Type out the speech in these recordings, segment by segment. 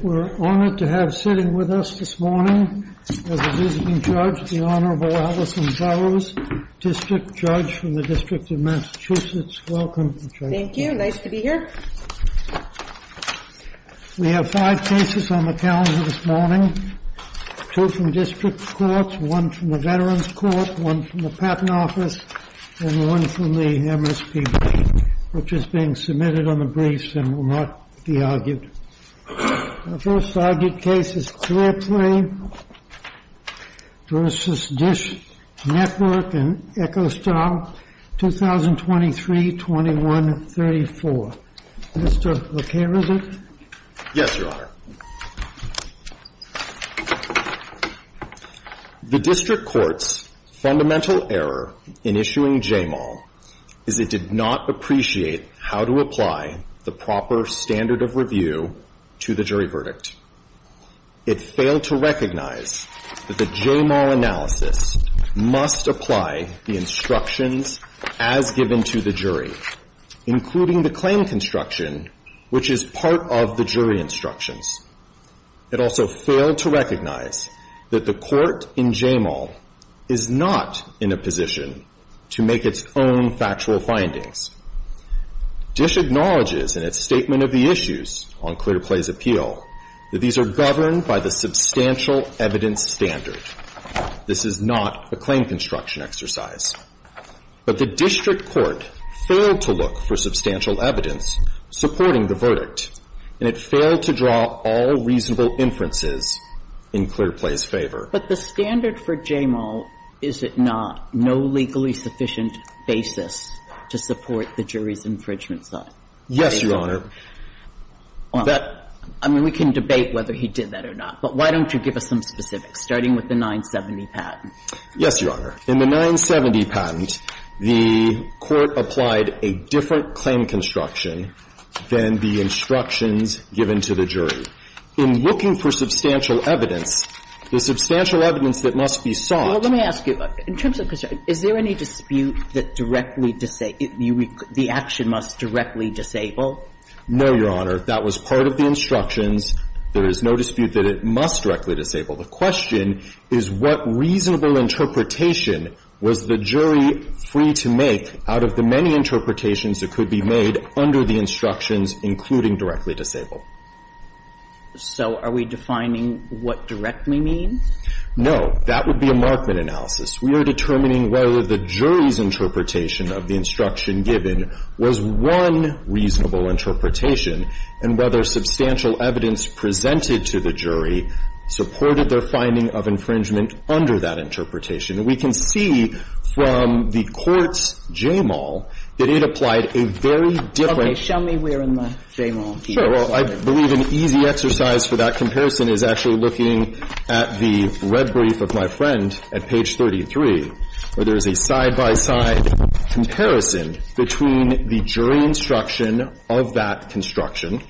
We're honored to have sitting with us this morning is the visiting judge, the Honorable Allison Burroughs, District Judge from the District of Massachusetts. Welcome, Judge. Thank you. Nice to be here. We have five cases on the calendar this morning, two from district courts, one from the Veterans Court, one from the Patent Office, and one from the MSPB, which is being submitted on the briefs and will not be argued. The first argued case is Clearplay v. DISH Network and Echostyle, 2023-2134. Mr. LeClerc, is it? Yes, Your Honor. The district court's fundamental error in issuing JMAL is it did not appreciate how to apply the proper standard of review to the jury verdict. It failed to recognize that the JMAL analysis must apply the instructions as given to the jury, including the claim construction, which is part of the jury instructions. It also failed to recognize that the court in JMAL is not in a position to make its own factual findings. DISH acknowledges in its statement of the issues on Clearplay's appeal that these are governed by the substantial evidence standard. This is not a claim construction exercise. But the district court failed to look for substantial evidence supporting the jury verdict, and it failed to draw all reasonable inferences in Clearplay's favor. But the standard for JMAL, is it not no legally sufficient basis to support the jury's infringement side? Yes, Your Honor. Well, I mean, we can debate whether he did that or not, but why don't you give us some specifics, starting with the 970 patent? Yes, Your Honor. In the 970 patent, the Court applied a different claim construction than the instructions given to the jury. In looking for substantial evidence, the substantial evidence that must be sought Let me ask you, in terms of construction, is there any dispute that directly disables, the action must directly disable? No, Your Honor. That was part of the instructions. There is no dispute that it must directly disable. The question is what reasonable interpretation was the jury free to make out of the many interpretations that could be made under the instructions, including directly disable. So are we defining what directly means? No. That would be a markman analysis. We are determining whether the jury's interpretation of the instruction given was one reasonable interpretation, and whether substantial evidence presented to the jury supported their finding of infringement under that interpretation. And we can see from the Court's JMAL that it applied a very different Okay. Show me where in the JMAL. Sure. Well, I believe an easy exercise for that comparison is actually looking at the red brief of my friend at page 33, where there is a side-by-side comparison between the jury instruction of that construction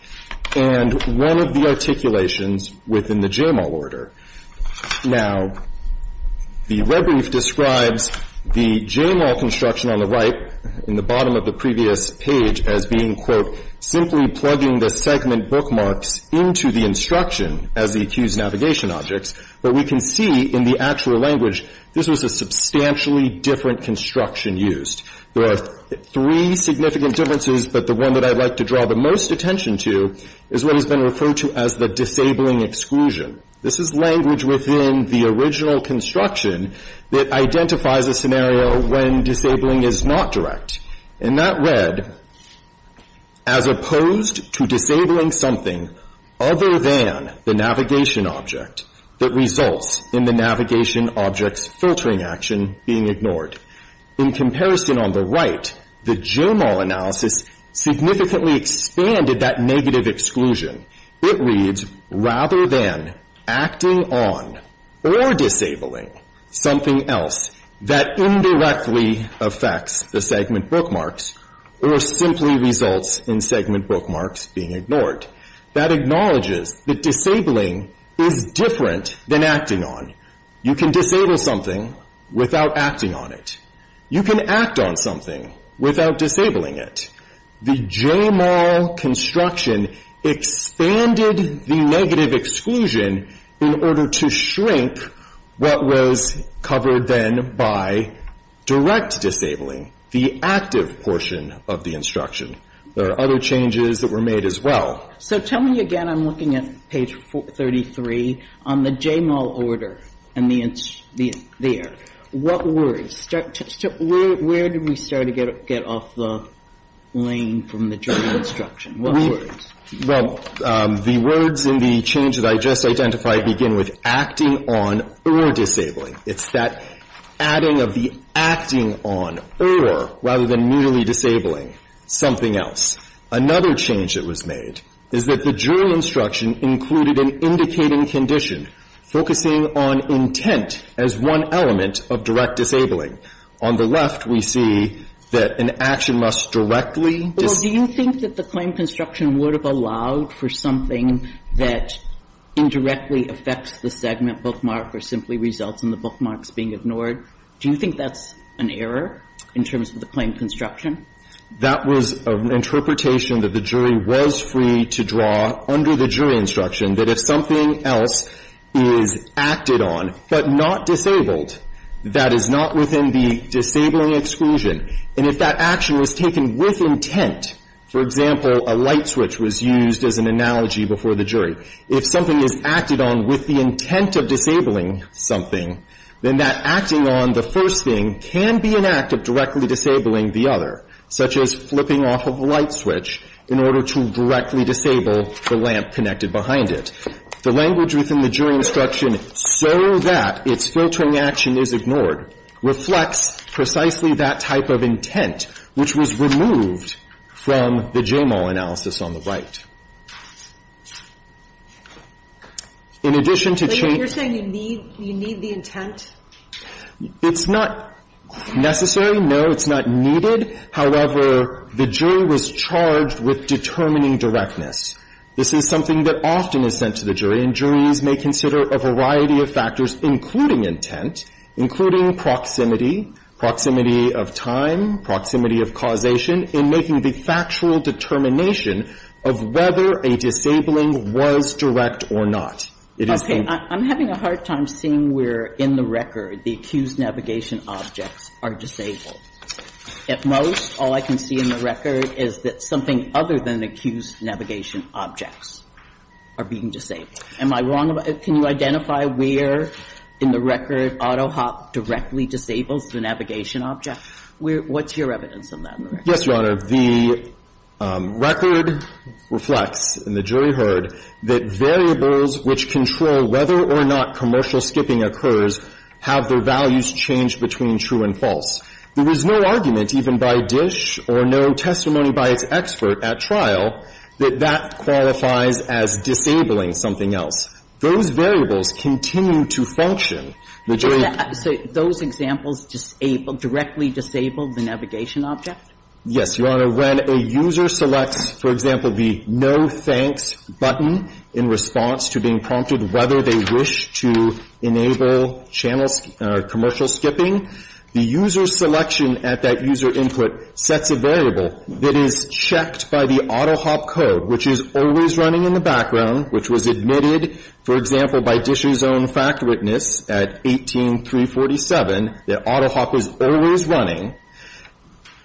and one of the articulations within the JMAL order. Now, the red brief describes the JMAL construction on the right in the bottom of the previous page as being, quote, simply plugging the segment bookmarks into the instruction as the accused's navigation objects. But we can see in the actual language this was a substantially different construction used. There are three significant differences, but the one that I'd like to draw the most attention to is what has been referred to as the disabling exclusion. This is language within the original construction that identifies a scenario when disabling is not direct. In that red, as opposed to disabling something other than the navigation object that results in the navigation object's filtering action being ignored, in comparison on the right, the JMAL analysis significantly expanded that negative exclusion. It reads, rather than acting on or disabling something else that indirectly affects the segment bookmarks or simply results in segment bookmarks being ignored. That acknowledges that disabling is different than acting on. You can disable something without acting on it. You can act on something without disabling it. The JMAL construction expanded the negative exclusion in order to shrink what was covered then by direct disabling, the active portion of the instruction. There are other changes that were made as well. So tell me again, I'm looking at page 33, on the JMAL order and the, there. What words? Where did we start to get off the lane from the JMAL instruction? What words? Well, the words in the change that I just identified begin with acting on or disabling. It's that adding of the acting on or, rather than merely disabling, something else. Another change that was made is that the JURY instruction included an indicating condition, focusing on intent as one element of direct disabling. On the left, we see that an action must directly dis, Well, do you think that the claim construction would have allowed for something that indirectly affects the segment bookmark or simply results in the bookmarks being ignored? Do you think that's an error in terms of the claim construction? That was an interpretation that the JURY was free to draw under the JURY instruction that if something else is acted on but not disabled, that is not within the disabling exclusion, and if that action was taken with intent, for example, a light switch was used as an analogy before the JURY, if something is acted on with the intent of disabling something, then that acting on the first thing can be an act of directly disabling the other, such as flipping off of a light switch in order to directly disable the lamp connected behind it. The language within the JURY instruction, so that its filtering action is ignored, reflects precisely that type of intent, which was removed from the JAMAL analysis on the right. In addition to change But you're saying you need, you need the intent? It's not necessary, no, it's not needed. However, the JURY was charged with determining directness. This is something that often is sent to the JURY, and JURYs may consider a variety of factors, including intent, including proximity, proximity of time, proximity of causation, in making the factual determination of whether a disabling was direct or not. It is the I'm having a hard time seeing where in the record the accused navigation objects are disabled. At most, all I can see in the record is that something other than accused navigation objects are being disabled. Am I wrong? Can you identify where in the record AutoHop directly disables the navigation object? Where, what's your evidence of that in the record? Yes, Your Honor. The record reflects, and the JURY heard, that variables which control whether or not commercial skipping occurs have their values changed between true and false. There is no argument, even by DISH or no testimony by its expert at trial, that that qualifies as disabling something else. Those variables continue to function. The JURY So those examples directly disable the navigation object? Yes, Your Honor. When a user selects, for example, the no thanks button in response to being prompted whether they wish to enable commercial skipping, the user selection at that user input sets a variable that is checked by the AutoHop code, which is always running in the background, which was admitted, for example, by DISH's own fact witness at 18-347, that AutoHop was always running.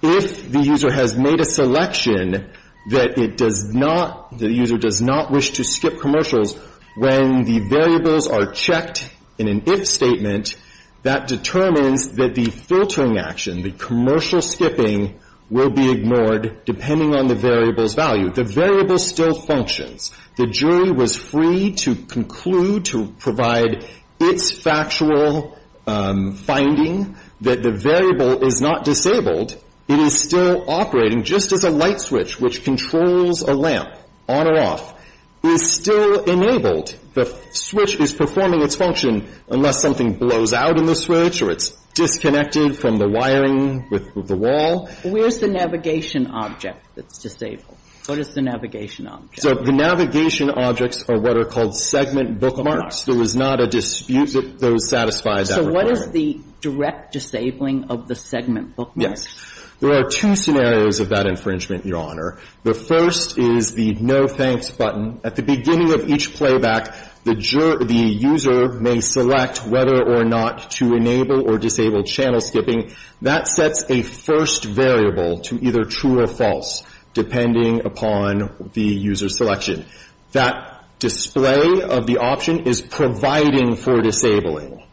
If the user has made a selection that it does not, the user does not wish to skip commercials when the variables are checked in an if statement that determines that the filtering action, the commercial skipping, will be ignored depending on the variable's value. The variable still functions. The JURY was free to conclude, to provide its factual finding that the variable is not disabled. It is still operating, just as a light switch which controls a lamp, on or off, is still enabled. The switch is performing its function unless something blows out in the switch or it's disconnected from the wiring of the wall. Where's the navigation object that's disabled? What is the navigation object? So the navigation objects are what are called segment bookmarks. There was not a dispute that those satisfied that requirement. So what is the direct disabling of the segment bookmark? Yes. There are two scenarios of that infringement, Your Honor. The first is the no thanks button. At the beginning of each playback, the user may select whether or not to enable or disable channel skipping. That sets a first variable to either true or false, depending upon the user's selection. That display of the option is providing for disabling.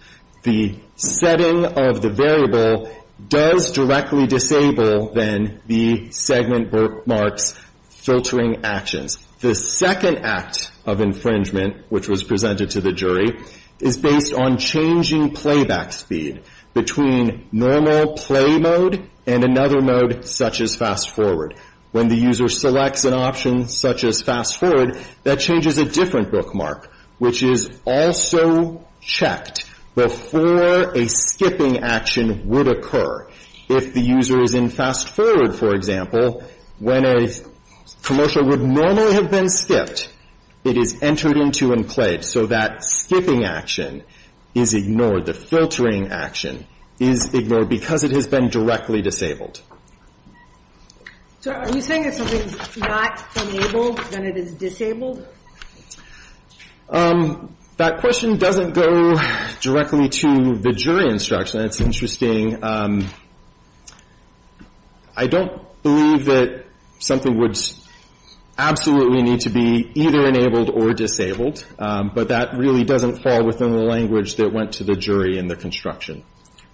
The setting of the variable does directly disable, then, the segment bookmark's filtering actions. The second act of infringement, which was presented to the jury, is based on changing playback speed between normal play mode and another mode, such as fast forward. When the user selects an option, such as fast forward, that changes a different bookmark, which is also checked before a skipping action would occur. If the user is in fast forward, for example, when a commercial would normally have been skipped, it is entered into and played. So that skipping action is ignored. The filtering action is ignored because it has been directly disabled. So are you saying if something's not enabled, then it is disabled? That question doesn't go directly to the jury instruction. That's interesting. I don't believe that something would absolutely need to be either enabled or disabled, but that really doesn't fall within the language that went to the jury in the construction.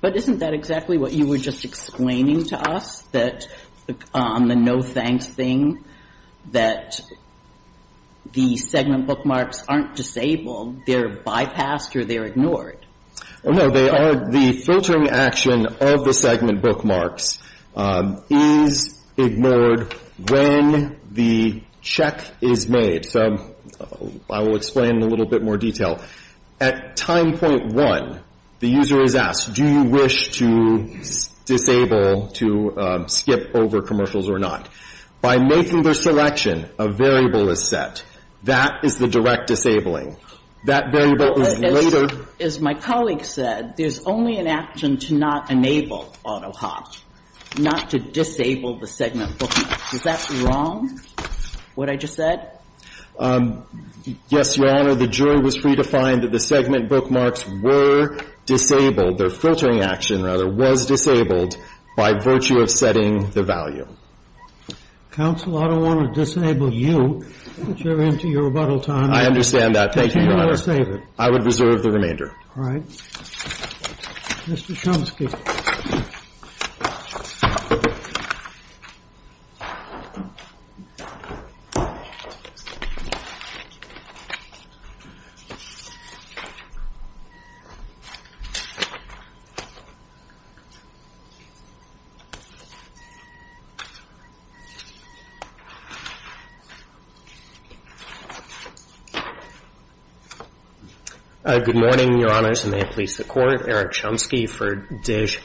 But isn't that exactly what you were just explaining to us, that on the no thanks thing, that the segment bookmarks aren't disabled, they're bypassed or they're ignored? No, they aren't. The filtering action of the segment bookmarks is ignored when the check is made. So I will explain in a little bit more detail. At time point one, the user is asked, do you wish to disable, to skip over commercials or not? By making their selection, a variable is set. That is the direct disabling. That variable is later. As my colleague said, there's only an action to not enable AutoHop, not to disable the segment bookmarks. Is that wrong, what I just said? Yes, Your Honor. The jury was free to find that the segment bookmarks were disabled, their filtering action, rather, was disabled by virtue of setting the value. Counsel, I don't want to disable you. You're into your rebuttal time. I understand that. Thank you, Your Honor. I would reserve the remainder. All right. Mr. Chomsky. Good morning, Your Honors, and may it please the Court. Eric Chomsky for Dish.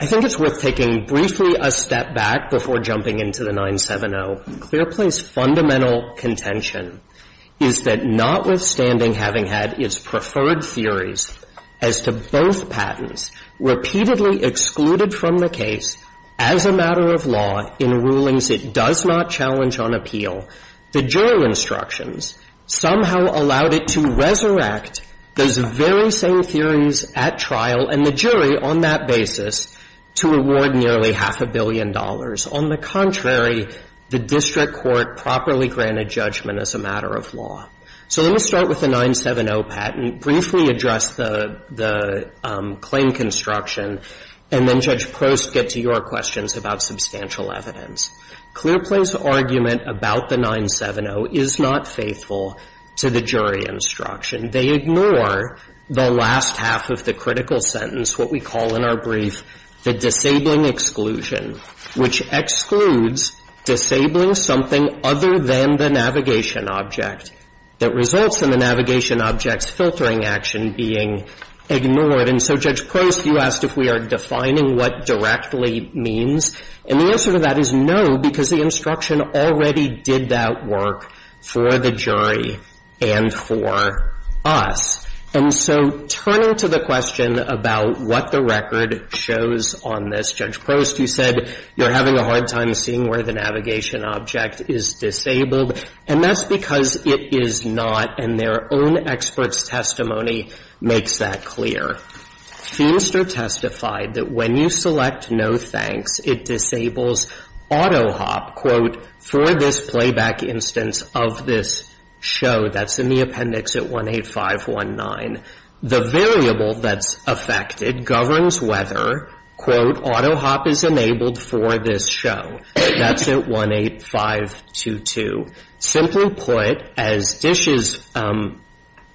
I think it's worth taking briefly a step back before jumping into the 970. Clearplay's fundamental contention is that notwithstanding having had its preferred theories as to both patents repeatedly excluded from the case as a matter of law in rulings it does not challenge on appeal, the jury instructions somehow allowed it to resurrect those very same theories at trial and the jury on that basis to reward nearly half a billion dollars. On the contrary, the district court properly granted judgment as a matter of law. So let me start with the 970 patent, briefly address the claim construction, and then Judge Prost get to your questions about substantial evidence. Clearplay's argument about the 970 is not faithful to the jury instruction. They ignore the last half of the critical sentence, what we call in our brief the disabling exclusion, which excludes disabling something other than the navigation object that results in the navigation object's filtering action being ignored. And so, Judge Prost, you asked if we are defining what directly means. And the answer to that is no, because the instruction already did that work for the jury and for us. And so turning to the question about what the record shows on this, Judge Prost, you said you're having a hard time seeing where the navigation object is disabled, and that's because it is not, and their own expert's testimony makes that clear. Feinster testified that when you select no thanks, it disables AutoHop, quote, for this playback instance of this show that's in the appendix at 18519. The variable that's affected governs whether, quote, AutoHop is enabled for this show. That's at 18522. Simply put, as Dish's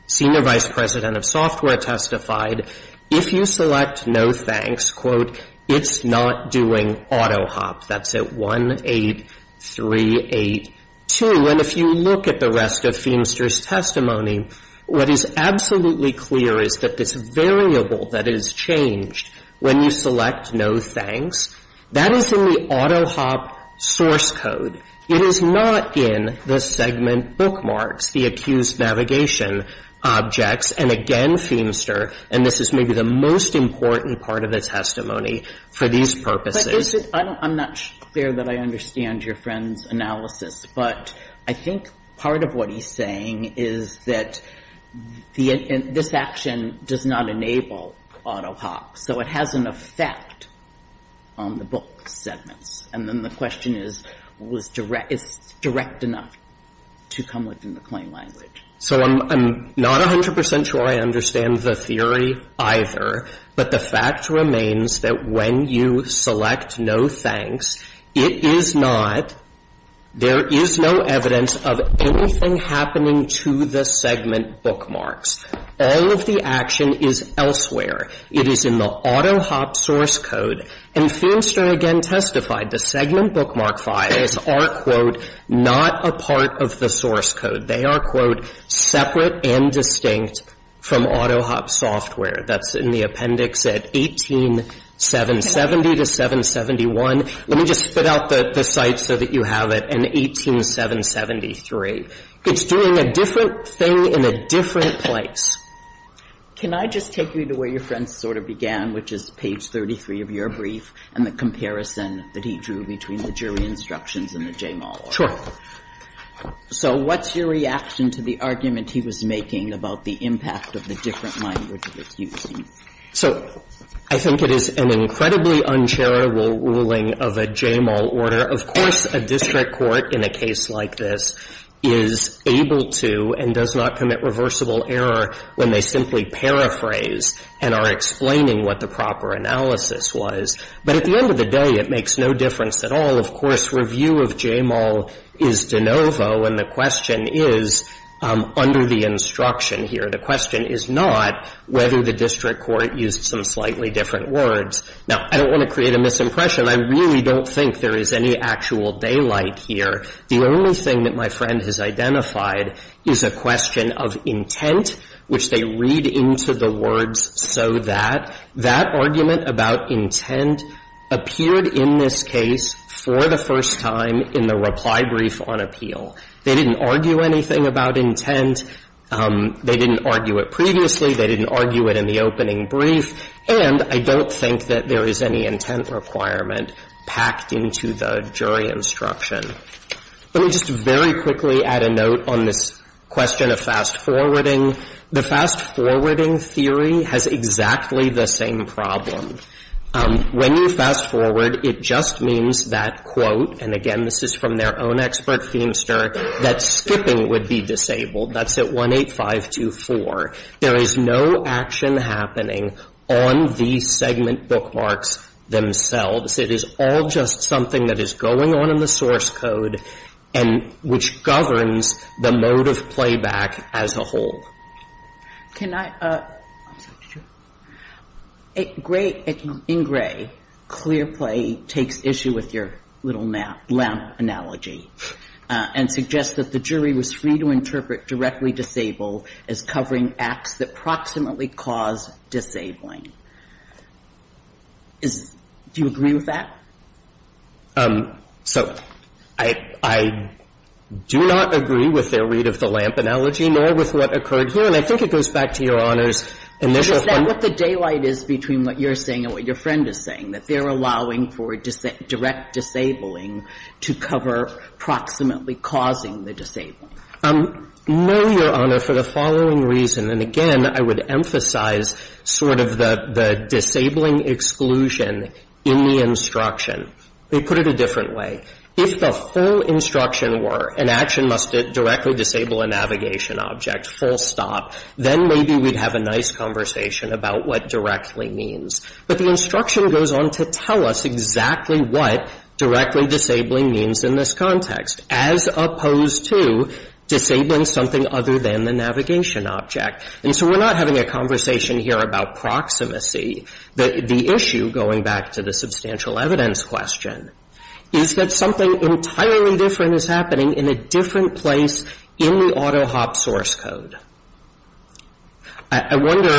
senior vice president of software testified, if you select no thanks, quote, it's not doing AutoHop. That's at 18382. And if you look at the rest of Feinster's testimony, what is absolutely clear is that this variable that is changed when you select no thanks, that is in the AutoHop source code. It is not in the segment bookmarks, the accused navigation objects. And again, Feinster, and this is maybe the most important part of the testimony for these purposes. But is it – I'm not clear that I understand your friend's analysis, but I think part of what he's saying is that this action does not enable AutoHop, so it has an effect on the book segments. And then the question is, is it direct enough to come within the claim language? So I'm not 100 percent sure I understand the theory either, but the fact remains that when you select no thanks, it is not – there is no evidence of anything happening to the segment bookmarks. All of the action is elsewhere. It is in the AutoHop source code. And Feinster again testified the segment bookmark files are, quote, not a part of the source code. They are, quote, separate and distinct from AutoHop software. That's in the appendix at 18770 to 771. Let me just spit out the site so that you have it, in 18773. It's doing a different thing in a different place. Can I just take you to where your friend's sort of began, which is page 33 of your brief and the comparison that he drew between the jury instructions and the Jamal order? Sure. So what's your reaction to the argument he was making about the impact of the different language of the QC? So I think it is an incredibly uncharitable ruling of a Jamal order. Of course, a district court in a case like this is able to and does not commit reversible error when they simply paraphrase and are explaining what the proper analysis was. But at the end of the day, it makes no difference at all. Of course, review of Jamal is de novo, and the question is under the instruction here. The question is not whether the district court used some slightly different words. Now, I don't want to create a misimpression. I really don't think there is any actual daylight here. The only thing that my friend has identified is a question of intent, which they read into the words so that. That argument about intent appeared in this case for the first time in the reply brief on appeal. They didn't argue anything about intent. They didn't argue it previously. They didn't argue it in the opening brief. And I don't think that there is any intent requirement packed into the jury instruction. Let me just very quickly add a note on this question of fast forwarding. The fast forwarding theory has exactly the same problem. When you fast forward, it just means that, quote, and again, this is from their own expert Feenster, that skipping would be disabled. That's at 18524. There is no action happening on the segment bookmarks themselves. It is all just something that is going on in the source code and which governs the mode of playback as a whole. Can I – in Gray, clear play takes issue with your little lamp analogy and suggests that the jury was free to interpret directly disabled as covering acts that proximately cause disabling. Do you agree with that? So I do not agree with their read of the lamp analogy, nor with what occurred here. And I think it goes back to Your Honor's initial point. Is that what the daylight is between what you're saying and what your friend is saying, that they're allowing for direct disabling to cover proximately causing the disabling? No, Your Honor, for the following reason. And again, I would emphasize sort of the disabling exclusion in the instruction. They put it a different way. If the full instruction were an action must directly disable a navigation object, full stop, then maybe we'd have a nice conversation about what directly means. But the instruction goes on to tell us exactly what directly disabling means in this context, as opposed to disabling something other than the navigation object. And so we're not having a conversation here about proximacy. The issue, going back to the substantial evidence question, is that something entirely different is happening in a different place in the AutoHop source code. I wonder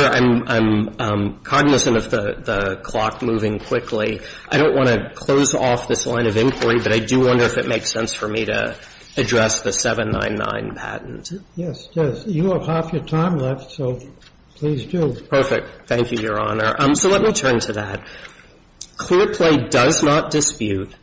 – I'm cognizant of the clock moving quickly. I don't want to close off this line of inquiry, but I do wonder if it makes sense for me to address the 799 patent. Yes, it does. You have half your time left, so please do. Perfect. Thank you, Your Honor. So let me turn to that. Clearplay does not dispute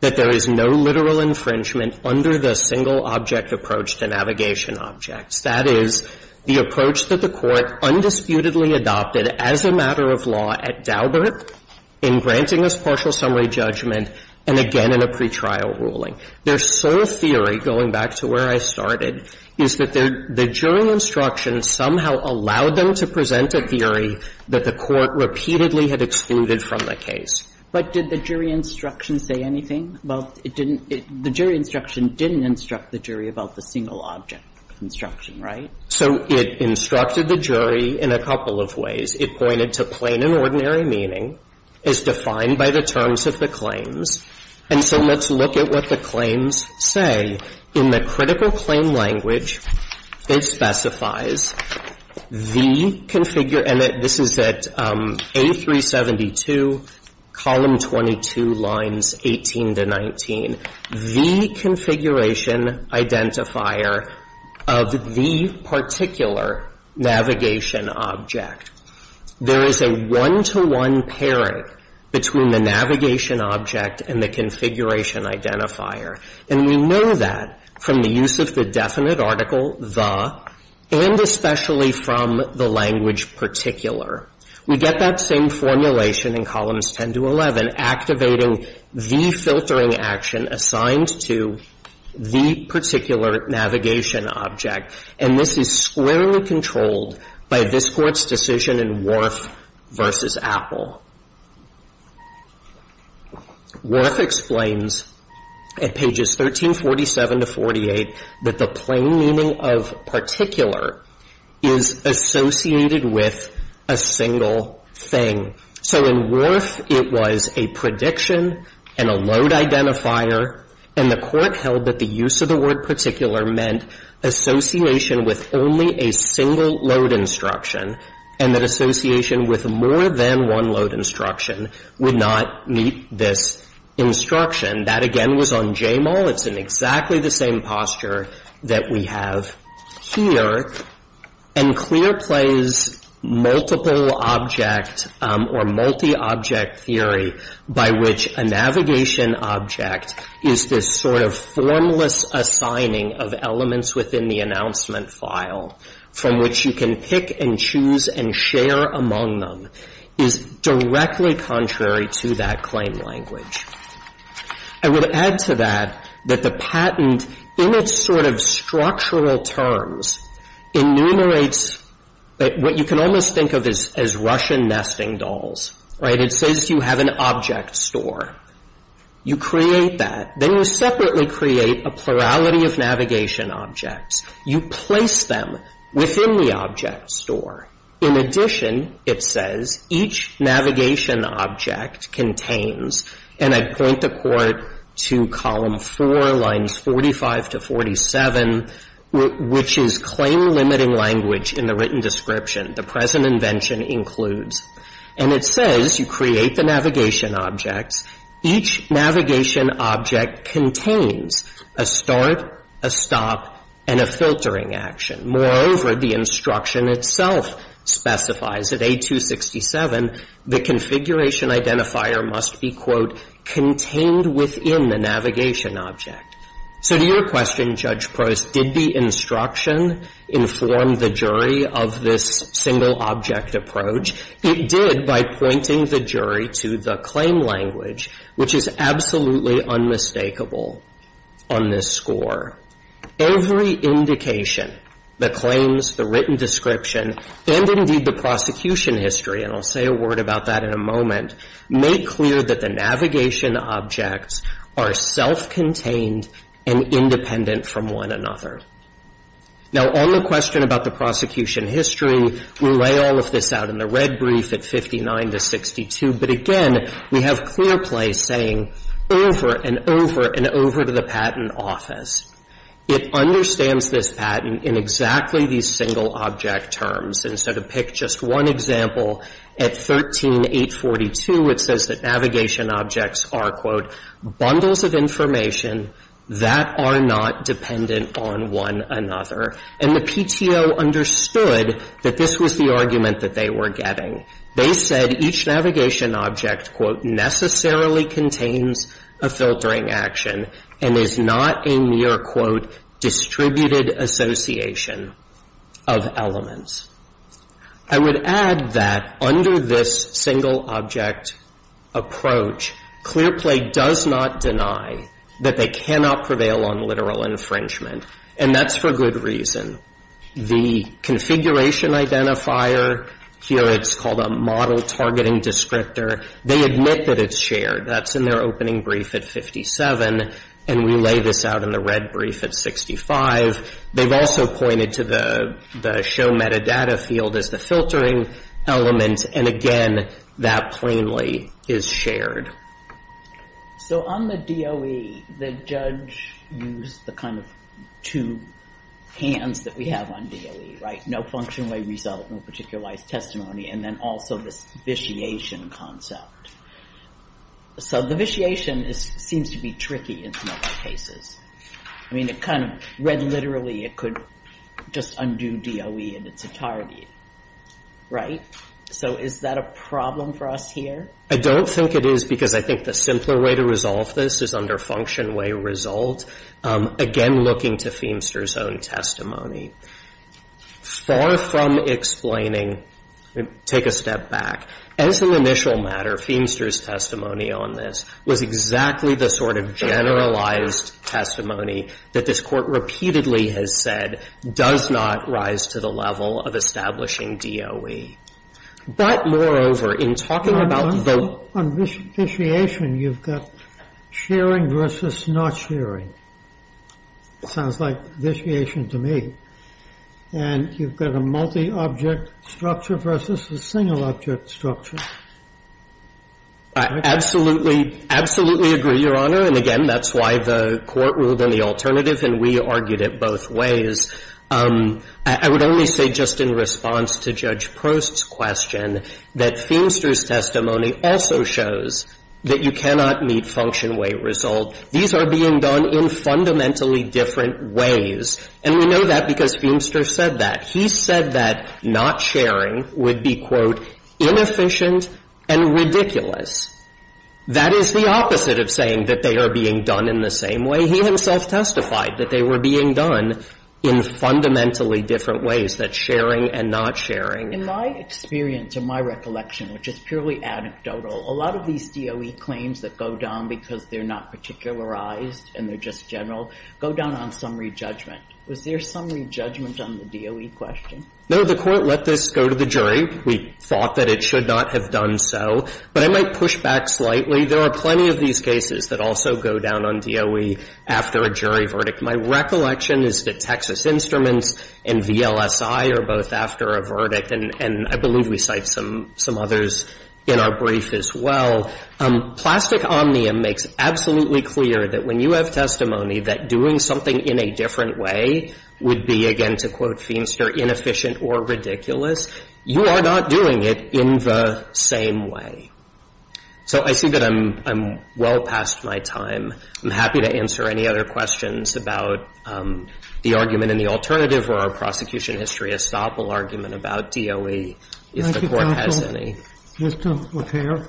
that there is no literal infringement under the single-object approach to navigation objects. That is, the approach that the Court undisputedly adopted as a matter of law at Daubert in granting us partial summary judgment, and again in a pretrial ruling. Their sole theory, going back to where I started, is that the jury instruction somehow allowed them to present a theory that the Court repeatedly had excluded from the case. But did the jury instruction say anything? Well, it didn't – the jury instruction didn't instruct the jury about the single-object instruction, right? So it instructed the jury in a couple of ways. It pointed to plain and ordinary meaning as defined by the terms of the claims. And so let's look at what the claims say. In the critical claim language, it specifies the – and this is at A372, column 22, lines 18 to 19 – the configuration identifier of the particular navigation object. There is a one-to-one pairing between the navigation object and the configuration identifier. And we know that from the use of the definite article, the, and especially from the language particular. We get that same formulation in columns 10 to 11, activating the filtering action assigned to the particular navigation object. And this is squarely controlled by this Court's decision in Wharf v. Apple. Wharf explains at pages 1347 to 48 that the plain meaning of particular is associated with a single thing. So in Wharf, it was a prediction and a load identifier, and the Court held that the word particular meant association with only a single load instruction and that association with more than one load instruction would not meet this instruction. That, again, was on JMOL. It's in exactly the same posture that we have here. And Clear plays multiple object or multi-object theory by which a navigation object is this sort of formless assigning of elements within the announcement file from which you can pick and choose and share among them is directly contrary to that claim language. I would add to that that the patent, in its sort of structural terms, enumerates what you can almost think of as Russian nesting dolls, right? And it says you have an object store. You create that. Then you separately create a plurality of navigation objects. You place them within the object store. In addition, it says, each navigation object contains, and I point the Court to column 4, lines 45 to 47, which is claim-limiting language in the written description. The present invention includes. And it says you create the navigation objects. Each navigation object contains a start, a stop, and a filtering action. Moreover, the instruction itself specifies that A267, the configuration identifier must be, quote, contained within the navigation object. So to your question, Judge Prost, did the instruction inform the jury of this single object approach? It did by pointing the jury to the claim language, which is absolutely unmistakable on this score. Every indication, the claims, the written description, and indeed the prosecution history, and I'll say a word about that in a moment, make clear that the navigation objects are self-contained and independent from one another. Now, on the question about the prosecution history, we lay all of this out in the red brief at 59 to 62. But again, we have clear play saying over and over and over to the Patent Office. It understands this patent in exactly these single object terms. Instead of pick just one example, at 13-842, it says that navigation objects are, quote, bundles of information that are not dependent on one another. And the PTO understood that this was the argument that they were getting. They said each navigation object, quote, necessarily contains a filtering action and is not a mere, quote, distributed association of elements. I would add that under this single object approach, clear play does not deny that they cannot prevail on literal infringement, and that's for good reason. The configuration identifier, here it's called a model targeting descriptor. They admit that it's shared. That's in their opening brief at 57, and we lay this out in the red brief at 65. They've also pointed to the show metadata field as the filtering element. And again, that plainly is shared. So on the DOE, the judge used the kind of two hands that we have on DOE, right? No function, no result, no particularized testimony. And then also this vitiation concept. So the vitiation seems to be tricky in some of the cases. I mean, it kind of read literally it could just undo DOE and it's a target, right? So is that a problem for us here? I don't think it is because I think the simpler way to resolve this is under function way result. Again, looking to Feimster's own testimony. Far from explaining, take a step back. As an initial matter, Feimster's testimony on this was exactly the sort of generalized testimony that this court repeatedly has said does not rise to the level of establishing DOE. But moreover, in talking about the- On vitiation, you've got sharing versus not sharing. Sounds like vitiation to me. And you've got a multi-object structure versus a single object structure. I absolutely, absolutely agree, Your Honor. And again, that's why the court ruled on the alternative and we argued it both ways. I would only say just in response to Judge Prost's question that Feimster's testimony also shows that you cannot meet function way result. These are being done in fundamentally different ways. And we know that because Feimster said that. He said that not sharing would be, quote, inefficient and ridiculous. That is the opposite of saying that they are being done in the same way. He himself testified that they were being done in fundamentally different ways, that sharing and not sharing. In my experience, in my recollection, which is purely anecdotal, a lot of these DOE claims that go down because they're not particularized and they're just general go down on summary judgment. Was there summary judgment on the DOE question? No, the court let this go to the jury. We thought that it should not have done so. But I might push back slightly. There are plenty of these cases that also go down on DOE after a jury verdict. My recollection is that Texas Instruments and VLSI are both after a verdict, and I believe we cite some others in our brief as well. Plastic Omnium makes absolutely clear that when you have testimony that doing something in a different way would be, again, to quote Feenster, inefficient or ridiculous. You are not doing it in the same way. So I see that I'm well past my time. I'm happy to answer any other questions about the argument in the alternative or our prosecution history estoppel argument about DOE if the court has any. Mr. O'Hare.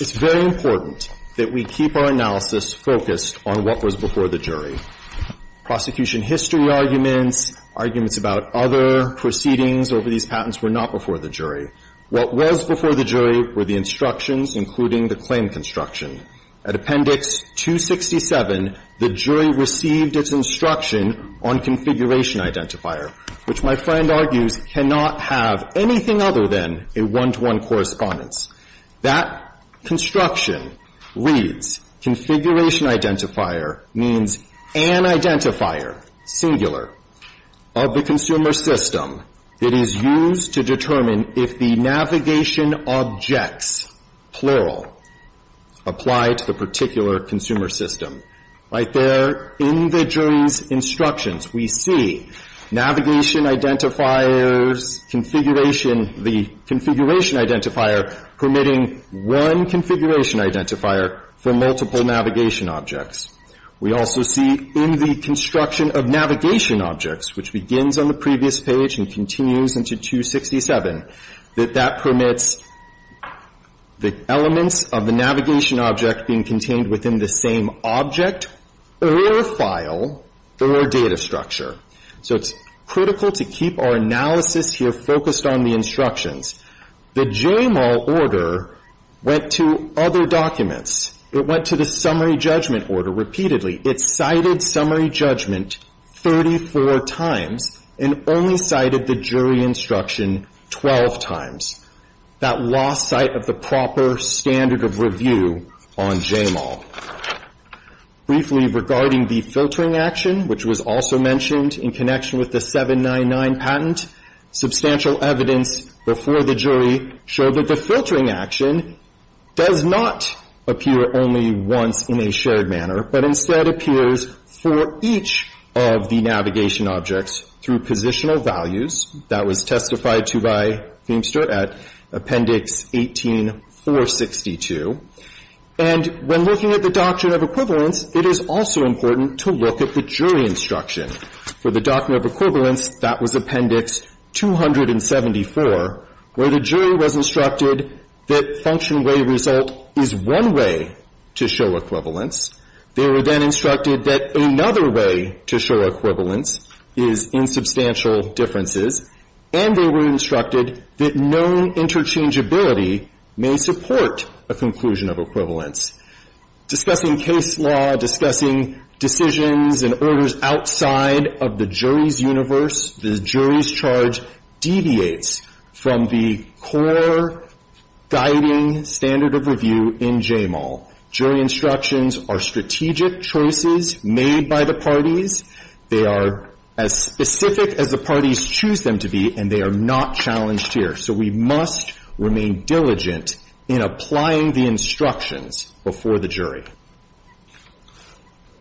It's very important that we keep our analysis focused on what was before the jury. Prosecution history arguments, arguments about other proceedings over these patents were not before the jury. What was before the jury were the instructions, including the claim construction. At Appendix 267, the jury received its instruction on configuration identifier, which my friend argues cannot have anything other than a one-to-one correspondence. That construction reads, configuration identifier means an identifier, singular, of the consumer system that is used to determine if the navigation objects, plural, apply to the particular consumer system. Right there in the jury's instructions, we see navigation identifiers, configuration, the configuration identifier permitting one configuration identifier for multiple navigation objects. We also see in the construction of navigation objects, which begins on the previous page and continues into 267, that that permits the elements of the navigation object being contained within the same object or file or data structure. So it's critical to keep our analysis here focused on the instructions. The JML order went to other documents. It went to the summary judgment order repeatedly. It cited summary judgment 34 times and only cited the jury instruction 12 times. That lost sight of the proper standard of review on JML. Briefly regarding the filtering action, which was also mentioned in connection with the 799 patent, substantial evidence before the jury showed that the filtering action does not appear only once in a shared manner, but instead appears for each of the navigation objects through positional values. That was testified to by Feimster at Appendix 18462. And when looking at the Doctrine of Equivalence, it is also important to look at the jury instruction. For the Doctrine of Equivalence, that was Appendix 274 where the jury was instructed that function way result is one way to show equivalence. They were then instructed that another way to show equivalence is in substantial differences. And they were instructed that known interchangeability may support a conclusion of equivalence. Discussing case law, discussing decisions and orders outside of the jury's universe, the jury's charge deviates from the core guiding standard of review in JML. Jury instructions are strategic choices made by the parties. They are as specific as the parties choose them to be, and they are not challenged here. So we must remain diligent in applying the instructions before the jury.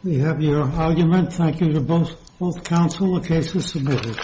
We have your argument. Thank you to both counsel. The case is submitted.